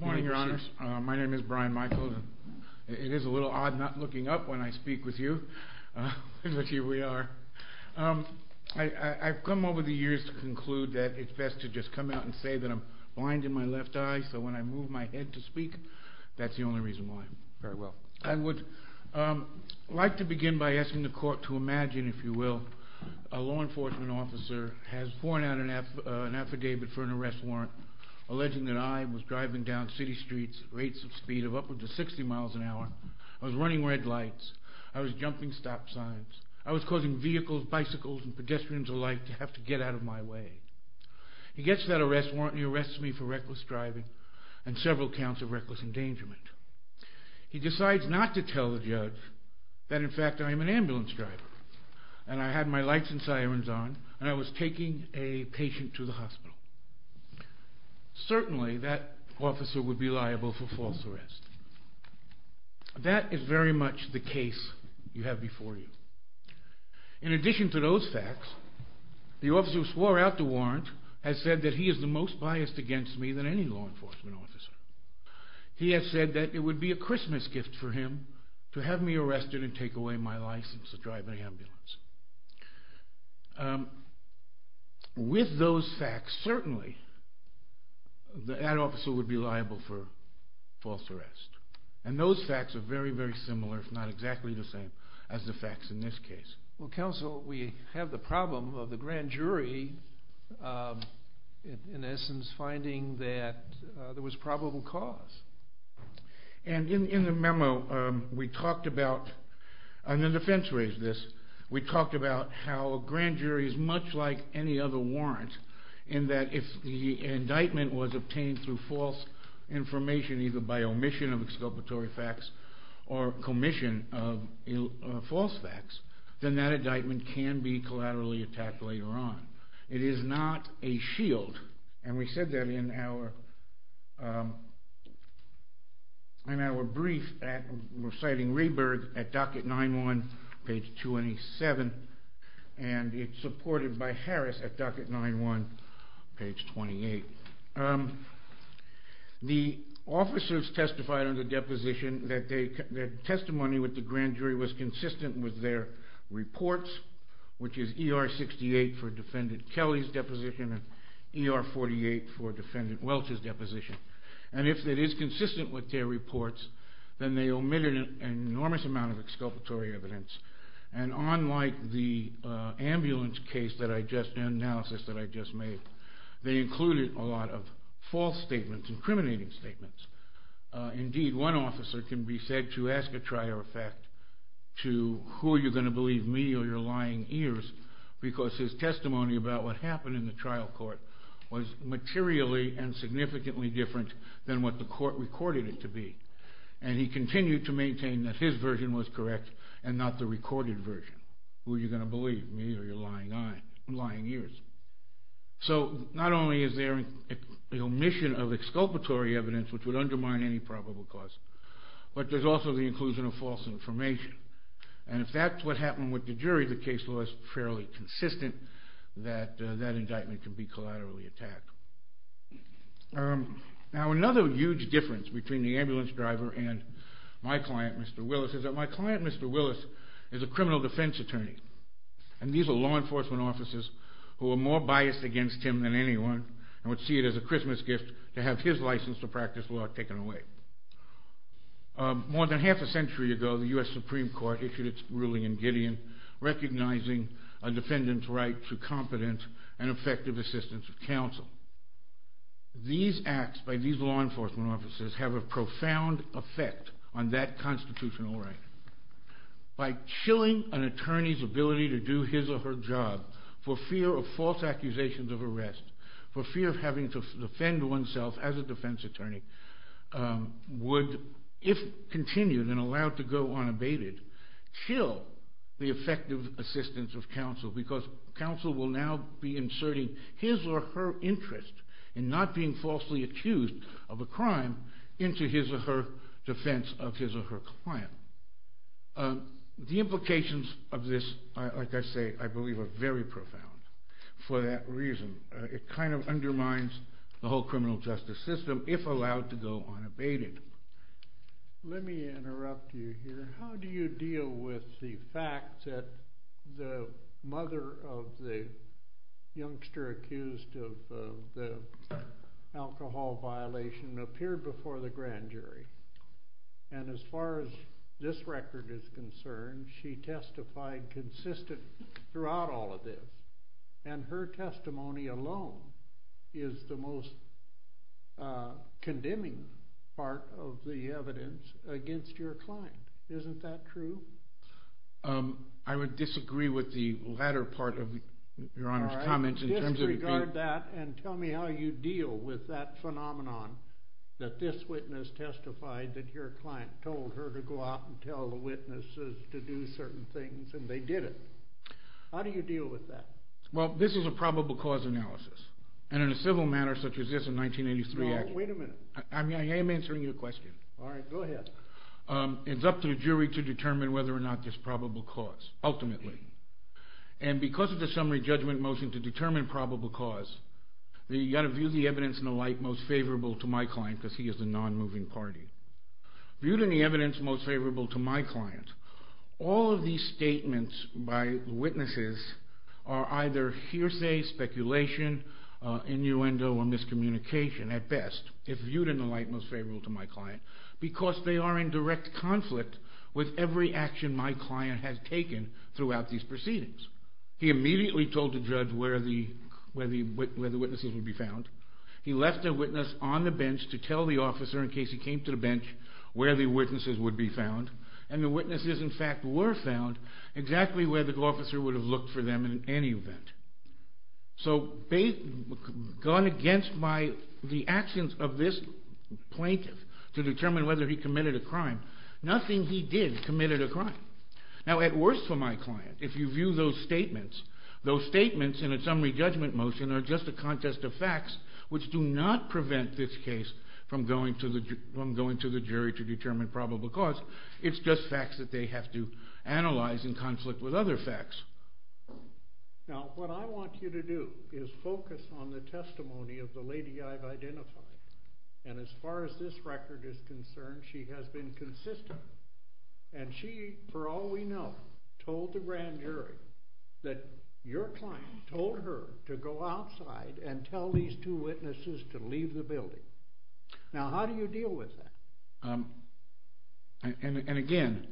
morning your honor my name is Brian Michaels it is a little odd not looking up when I speak with you but here we are I've come over the years to conclude that it's best to just come out and say that I'm blind in my left eye so when I move my head to speak that's the only reason why very well I would like to begin by asking the court to imagine if you will a law enforcement officer has sworn out an affidavit for an arrest warrant alleging that I was driving down city streets at rates of speed of upwards of 60 miles an hour I was running red lights I was jumping stop signs I was causing vehicles bicycles and pedestrians alike to have to get out of my way he gets that arrest warrant he arrests me for reckless driving and several counts of reckless endangerment he decides not to tell the judge that in fact I am an ambulance driver and I had my lights and sirens on I was taking a patient to the hospital certainly that officer would be liable for false arrest that is very much the case you have before you in addition to those facts the officer who swore out the warrant has said that he is the most biased against me than any law enforcement officer he has said that it would be a Christmas gift for him to have me arrested and with those facts certainly that officer would be liable for false arrest and those facts are very very similar if not exactly the same as the facts in this case. Well counsel we have the problem of the grand jury in essence finding that there was probable cause and in the memo we talked about and the defense raised this we talked about how a grand jury is much like any other warrant in that if the indictment was obtained through false information either by omission of exculpatory facts or commission of false facts then that indictment can be collaterally attacked later on it is not a shield and we said that in our brief at Reciting Rebirth at docket 9-1 page 27 and it is supported by Harris at docket 9-1 page 28. The officers testified on the deposition that testimony with the grand jury was consistent with their reports which is ER 68 for defendant Kelly's deposition and ER 48 for defendant Welch's deposition and if it is consistent with their reports then they omitted an enormous amount of exculpatory evidence and unlike the ambulance case that I just did analysis that I just made they included a lot of false statements incriminating statements. Indeed one officer can be said to ask a trier of who are you going to believe me or your lying ears because his testimony about what happened in the trial court was materially and significantly different than what the court recorded it to be and he continued to maintain that his version was correct and not the recorded version. Who are you going to believe me or your lying ears. So not only is there an omission of exculpatory evidence which would be an omission of information and if that's what happened with the jury the case law is fairly consistent that that indictment can be collaterally attacked. Now another huge difference between the ambulance driver and my client Mr. Willis is that my client Mr. Willis is a criminal defense attorney and these are law enforcement officers who are more biased against him than anyone and would see it as a Christmas gift to have his a century ago the U.S. Supreme Court issued its ruling in Gideon recognizing a defendant's right to competent and effective assistance of counsel. These acts by these law enforcement officers have a profound effect on that constitutional right. By chilling an attorney's ability to do his or her job for fear of false accusations of arrest for fear of having to defend oneself as allowed to go on abated chill the effective assistance of counsel because counsel will now be inserting his or her interest in not being falsely accused of a crime into his or her defense of his or her client. The implications of this like I say I believe are very profound for that reason. It kind of undermines the How do you deal with the fact that the mother of the youngster accused of the alcohol violation appeared before the grand jury and as far as this record is concerned she testified consistently throughout all of this and her testimony alone is the most condemning part of the evidence against your client. Isn't that true? I would disagree with the latter part of your honor's comments in terms of regard that and tell me how you deal with that phenomenon that this witness testified that your client told her to go out and tell the witnesses to do certain things and they did it. How do you deal with that? Well this is a probable cause analysis and in a civil manner such as this in 1983. No, wait a minute. I am answering your question. Alright, go ahead. It's up to the jury to determine whether or not this probable cause ultimately and because of the summary judgment motion to determine probable cause you've got to view the evidence and the like most favorable to my client because he is the non-moving party. Viewed in the evidence most favorable to my client all of these speculation, innuendo, or miscommunication at best if viewed in the light most favorable to my client because they are in direct conflict with every action my client has taken throughout these proceedings. He immediately told the judge where the witnesses would be found. He left a witness on the bench to tell the officer in case he came to the bench where the witnesses would be found and the witnesses in fact were found exactly where the officer would have looked for them in any event. So, gone against my the actions of this plaintiff to determine whether he committed a crime nothing he did committed a crime. Now at worst for my client if you view those statements, those statements in a summary judgment motion are just a contest of facts which do not prevent this case from going to the jury to determine probable cause. It's just facts that they have to analyze in conflict with other facts. Now what I want you to do is focus on the testimony of the lady I've identified and as far as this record is concerned she has been consistent and she for all we know told the grand jury that your client told her to go outside and tell these two witnesses to leave the building. Now how do you deal with that? And again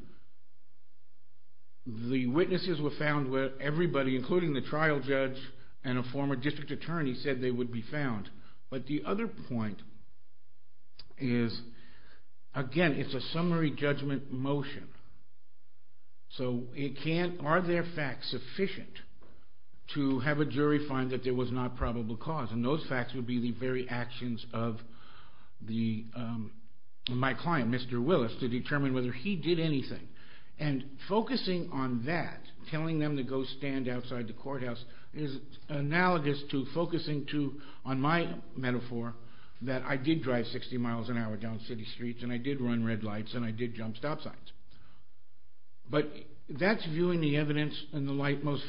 the witnesses were found where everybody including the trial judge and a former district attorney said they would be found but the other point is again it's a summary judgment motion so it can't are there facts sufficient to have a jury find that there was not probable cause and those facts would be the very actions of the my client Mr. Willis to determine whether he did anything and focusing on that telling them to go stand outside the courthouse is analogous to focusing to on my metaphor that I did drive 60 miles an hour down city streets and I did run red lights and I did jump stop signs but that's viewing the evidence and the light most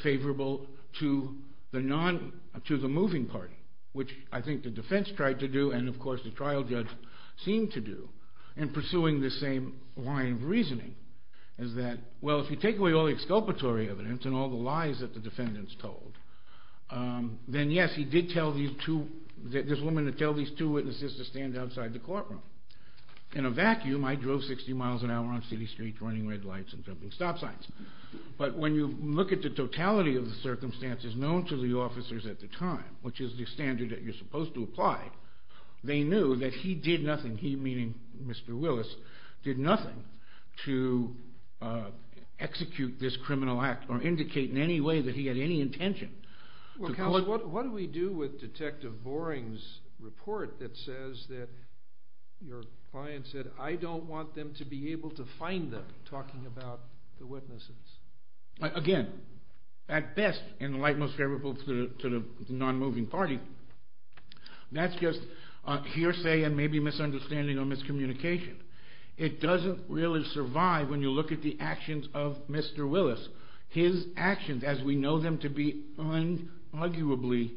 which I think the defense tried to do and of course the trial judge seemed to do in pursuing the same line of reasoning is that well if you take away all the exculpatory evidence and all the lies that the defendants told then yes he did tell these two that this woman to tell these two witnesses to stand outside the courtroom in a vacuum I drove 60 miles an hour on city streets running red lights and jumping stop signs but when you look at the totality of the standard that you're supposed to apply they knew that he did nothing he meaning Mr. Willis did nothing to execute this criminal act or indicate in any way that he had any intention what do we do with Detective Boring's report that says that your client said I don't want them to be able to find them talking about the witnesses again at best in the light most favorable to the non-moving party that's just hearsay and maybe misunderstanding or miscommunication it doesn't really survive when you look at the actions of Mr. Willis his actions as we know them to be unarguably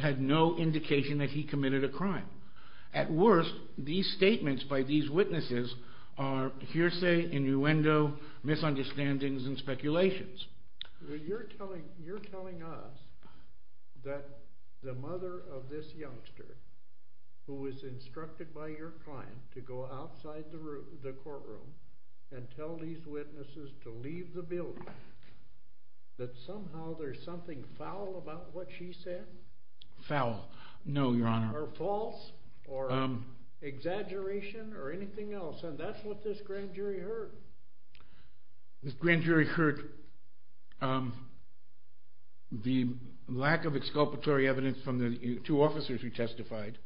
had no indication that he committed a crime at worst these statements by these witnesses are hearsay innuendo misunderstandings and speculations you're telling us that the mother of this youngster who was instructed by your client to go outside the courtroom and tell these witnesses to leave the building that somehow there's something foul about what she said foul no your honor or false or exaggeration or this grand jury heard the lack of exculpatory evidence from the two officers who testified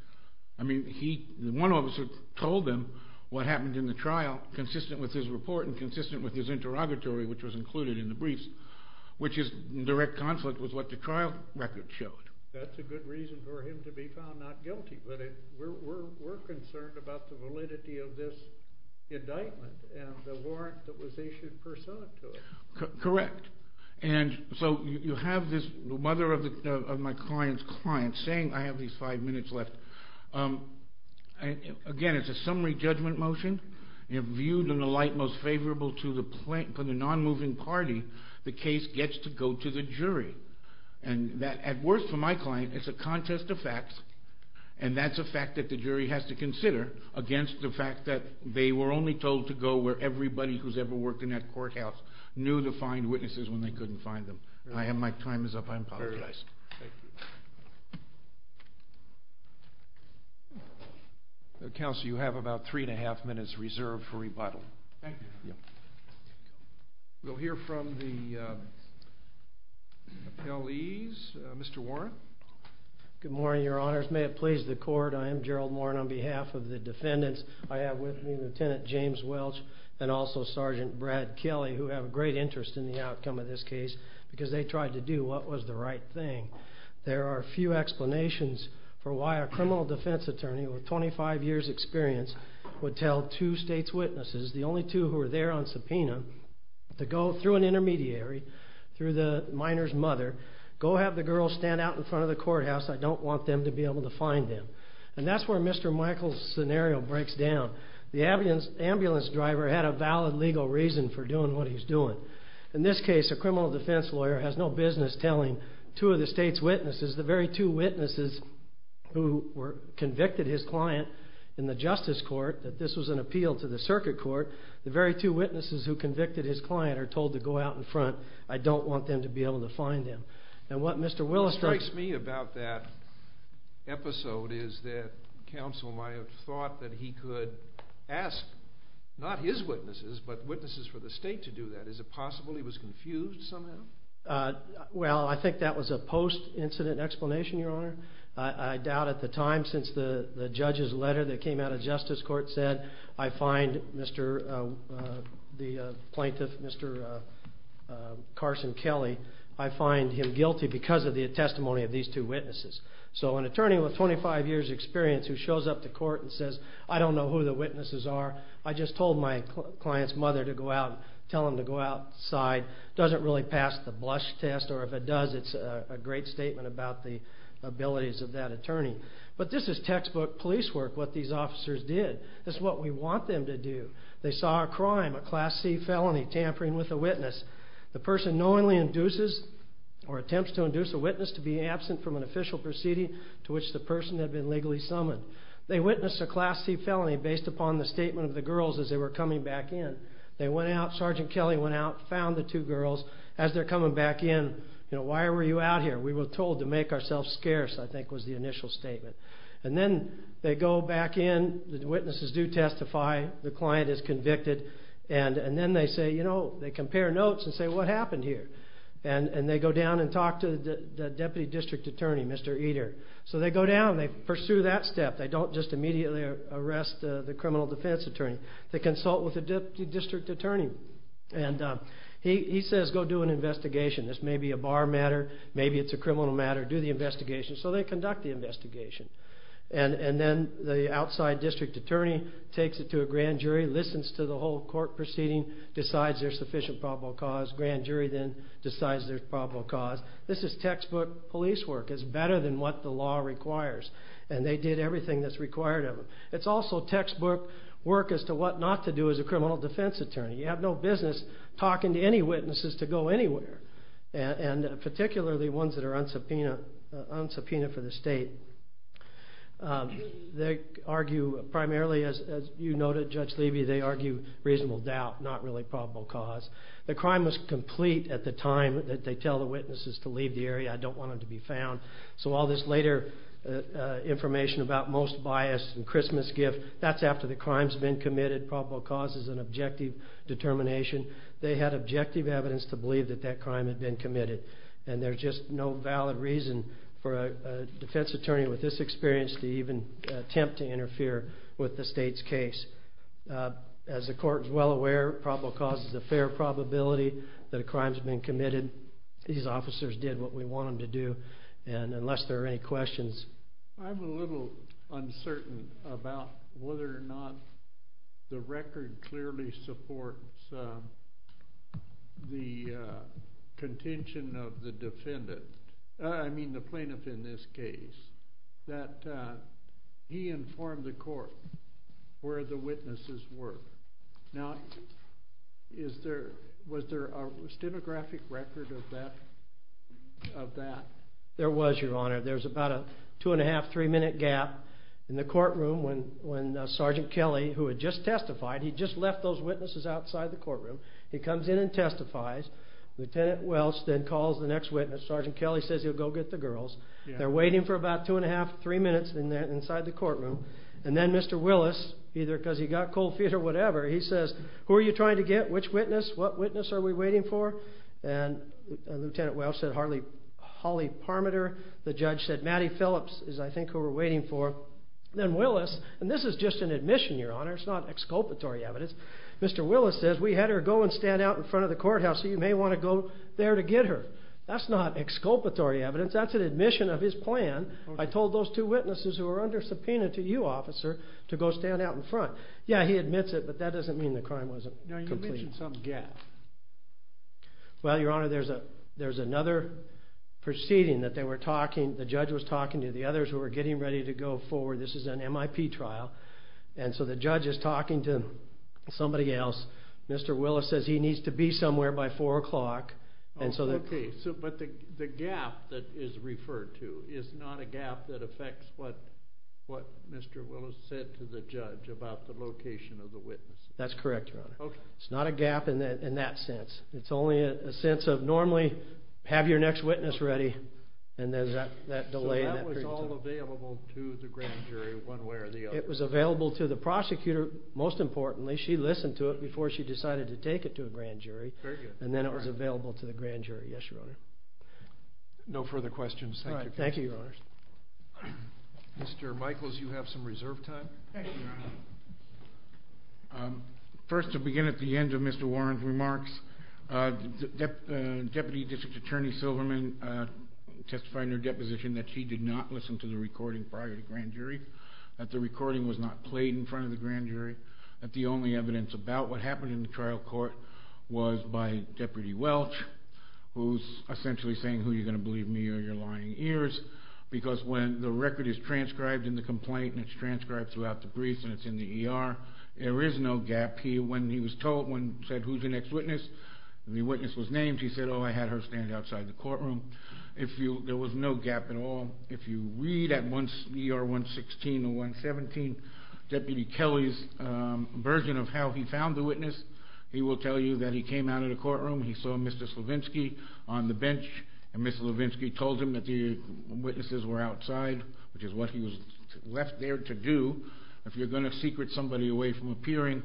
I mean he one officer told them what happened in the trial consistent with his report and consistent with his interrogatory which was included in the briefs which is direct conflict was what the trial record showed that's a good reason for him to be found not guilty but it we're concerned about the validity of this indictment and the warrant that was issued pursuant to it correct and so you have this mother of the of my client's client saying I have these five minutes left again it's a summary judgment motion you have viewed in the light most favorable to the plate for the non-moving party the case gets to go to the jury and that at worst for my client it's a contest of facts and that's a fact that the jury has to consider against the fact that they were only told to go where everybody who's ever worked in that courthouse knew to find witnesses when they couldn't find them I have my time is up I'm very nice council you have about three and a half minutes reserved for rebuttal thank you we'll hear from the police mr. Warren good morning your honors may it please the court I am Gerald Warren on behalf of the defendants I have with me lieutenant James Welch and also sergeant Brad Kelly who have a great interest in the outcome of this case because they tried to do what was the right thing there are a few explanations for why a criminal defense attorney with 25 years experience would tell two state's witnesses the only two who are there on subpoena to go through an intermediary through the minor's mother go have the girl stand out in front of the courthouse I don't want them to be able to find him and that's where mr. Michaels scenario breaks down the ambulance ambulance driver had a valid legal reason for doing what he's doing in this case a criminal defense lawyer has no business telling two of the state's witnesses the very two witnesses who were convicted his client in the justice court that this was an appeal to the circuit court the very two witnesses who convicted his client are told to go out in front I don't want them to be able to find him and what mr. Willis strikes me about that episode is that council might have thought that he could ask not his witnesses but witnesses for the state to do that is it possible he was confused somehow well I think that was a post-incident explanation your honor I doubt at the time since the the judge's letter that came out of Justice Court said I find mr. the plaintiff mr. Carson Kelly I find him guilty because of the testimony of these two witnesses so an attorney with 25 years experience who shows up to court and says I don't know who the witnesses are I just told my clients mother to go out tell him to go outside doesn't really pass the blush test or if it does it's a great statement about the abilities of that attorney but this is textbook police work what these officers did this is what we want them to do they saw a crime a class C felony tampering with a witness the person knowingly induces or attempts to induce a witness to be absent from an official proceeding to which the person had been legally summoned they witnessed a class C felony based upon the statement of the girls as they were coming back in they went out sergeant Kelly went out found the two girls as they're coming back in you know why were you out here we were told to make ourselves scarce I think was the initial statement and then they go back in the witnesses do testify the client is convicted and and then they say you know they compare notes and say what happened here and and they go down and talk to the deputy district attorney mr. eater so they go down they pursue that step they don't just immediately arrest the criminal defense attorney they consult with the deputy district attorney and he says go do an investigation this may be a bar matter maybe it's a criminal matter do the investigation so they conduct the investigation and and then the outside district attorney takes it to a grand jury listens to the whole court proceeding decides there's sufficient probable cause grand jury then decides there's probable cause this is textbook police work is better than what the law requires and they did everything that's required of it it's also textbook work as to what not to do as a criminal defense attorney you have no business talking to any witnesses to go anywhere and particularly ones that are unsubpoenaed unsubpoenaed for the state they argue primarily as you noted judge Levy they argue reasonable doubt not really probable cause the crime was complete at the time that they tell the witnesses to leave the area I don't want them to be found so all this later information about most bias and Christmas gift that's after the crimes been committed probable cause is an objective determination they had objective evidence to believe that that crime had been committed and there's just no valid reason for a defense attorney with this experience to even attempt to interfere with the state's case as the court is well aware probable cause is a fair probability that a crimes been committed these officers did what we want them to do and unless there are any questions I'm a little uncertain about whether or not the record clearly supports the contention of the defendant I mean the plaintiff in this case that he informed the court where the witnesses were now is there was there a stenographic record of that of that there was your honor there's about a two and a half three minute gap and the courtroom when when Sgt. Kelly who had just testified he just left those witnesses outside the courtroom he comes in and testifies Lt. Welch then calls the next witness Sgt. Kelly says he'll go get the girls they're waiting for about two and a half three minutes in there inside the courtroom and then Mr. Willis either because he got cold feet or whatever he says who are you trying to get which witness what witness are we waiting for and Lt. Welch said Harley Parmeter the judge said Maddie Phillips is I think who we're waiting for then Willis and this is just an admission your honor it's not exculpatory evidence Mr. Willis says we had her go and stand out in front of the courthouse so you may want to go there to get her that's not exculpatory evidence that's an admission of his plan I told those two witnesses who are under subpoena to you officer to go stand out in front yeah he admits it but that doesn't mean the the judge was talking to the others who are getting ready to go forward this is an MIP trial and so the judge is talking to somebody else Mr. Willis says he needs to be somewhere by four o'clock and so the case but the gap that is referred to is not a gap that affects what what Mr. Willis said to the judge about the location of the witness that's correct okay it's not a gap in that in it's only a sense of normally have your next witness ready and there's that delay it was available to the prosecutor most importantly she listened to it before she decided to take it to a grand jury and then it was available to the grand jury yes your honor no further questions thank you thank you your honors mr. Michaels you have some reserve time first to begin at the end of mr. Warren's remarks the deputy district attorney Silverman testifying her deposition that she did not listen to the recording prior to grand jury that the recording was not played in front of the grand jury that the only evidence about what happened in the trial court was by deputy Welch who's essentially saying who you're going to believe me or your lying ears because when the record is transcribed in the complaint and it's transcribed throughout the briefs and it's in the ER there is no gap here when he was told when said who's the next witness the witness was named he said oh I had her stand outside the courtroom if you there was no gap at all if you read at once er 116 117 deputy Kelly's version of how he found the witness he will tell you that he came out of the courtroom he saw mr. Slavinsky on the bench and mr. Levinsky told him that the witnesses were outside which is what he was left there to do if you're going to secret somebody away from appearing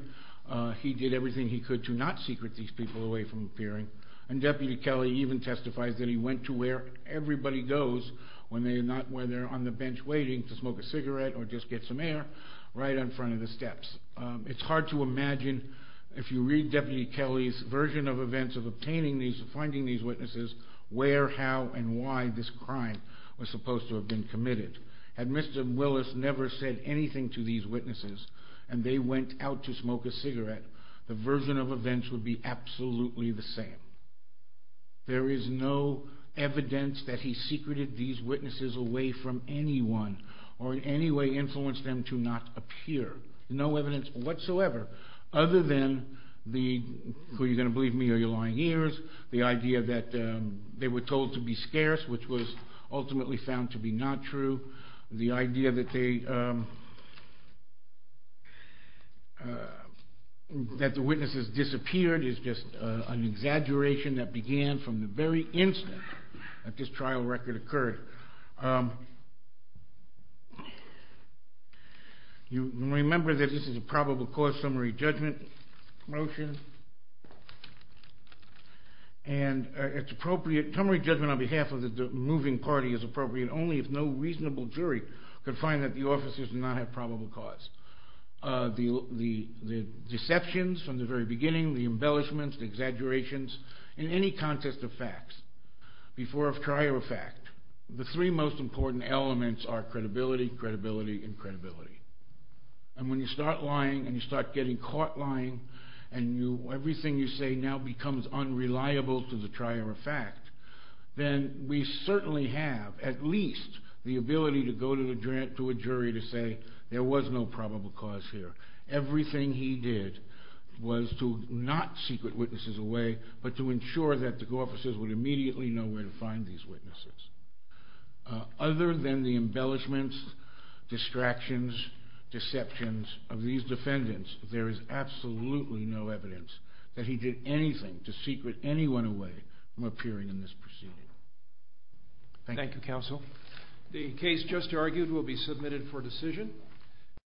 he did everything he could to not secret these people away from appearing and deputy Kelly even testifies that he went to where everybody goes when they're not where they're on the bench waiting to smoke a cigarette or just get some air right in front of the steps it's hard to imagine if you read deputy Kelly's version of events of obtaining these finding these witnesses where how and why this crime was supposed to have been committed had mr. Willis never said anything to these witnesses and they went out to smoke a cigarette the version of events would be absolutely the same there is no evidence that he secreted these witnesses away from anyone or in any way influence them to not appear no evidence whatsoever other than the who you're going to believe me or your lying ears the idea that they were told to be scarce which was ultimately found to be not true the idea that they that the witnesses disappeared is just an exaggeration that began from the very instant that this trial record occurred you remember that this is a probable cause summary judgment motion and it's appropriate summary judgment on behalf of the moving party is appropriate only if no reasonable jury could find that the officers do not have probable cause the the the deceptions from the very beginning the embellishments the exaggerations in any context of facts before of trial fact the three most important elements are credibility credibility and credibility and when you start lying and you start getting caught lying and you everything you say now becomes unreliable to the trier of fact then we certainly have at least the ability to go to the grant to a jury to say there was no probable cause here everything he did was to not secret witnesses away but to ensure that the officers would immediately know where to find these witnesses other than the defendants there is absolutely no evidence that he did anything to secret anyone away from appearing in this proceeding thank you counsel the case just argued will be submitted for decision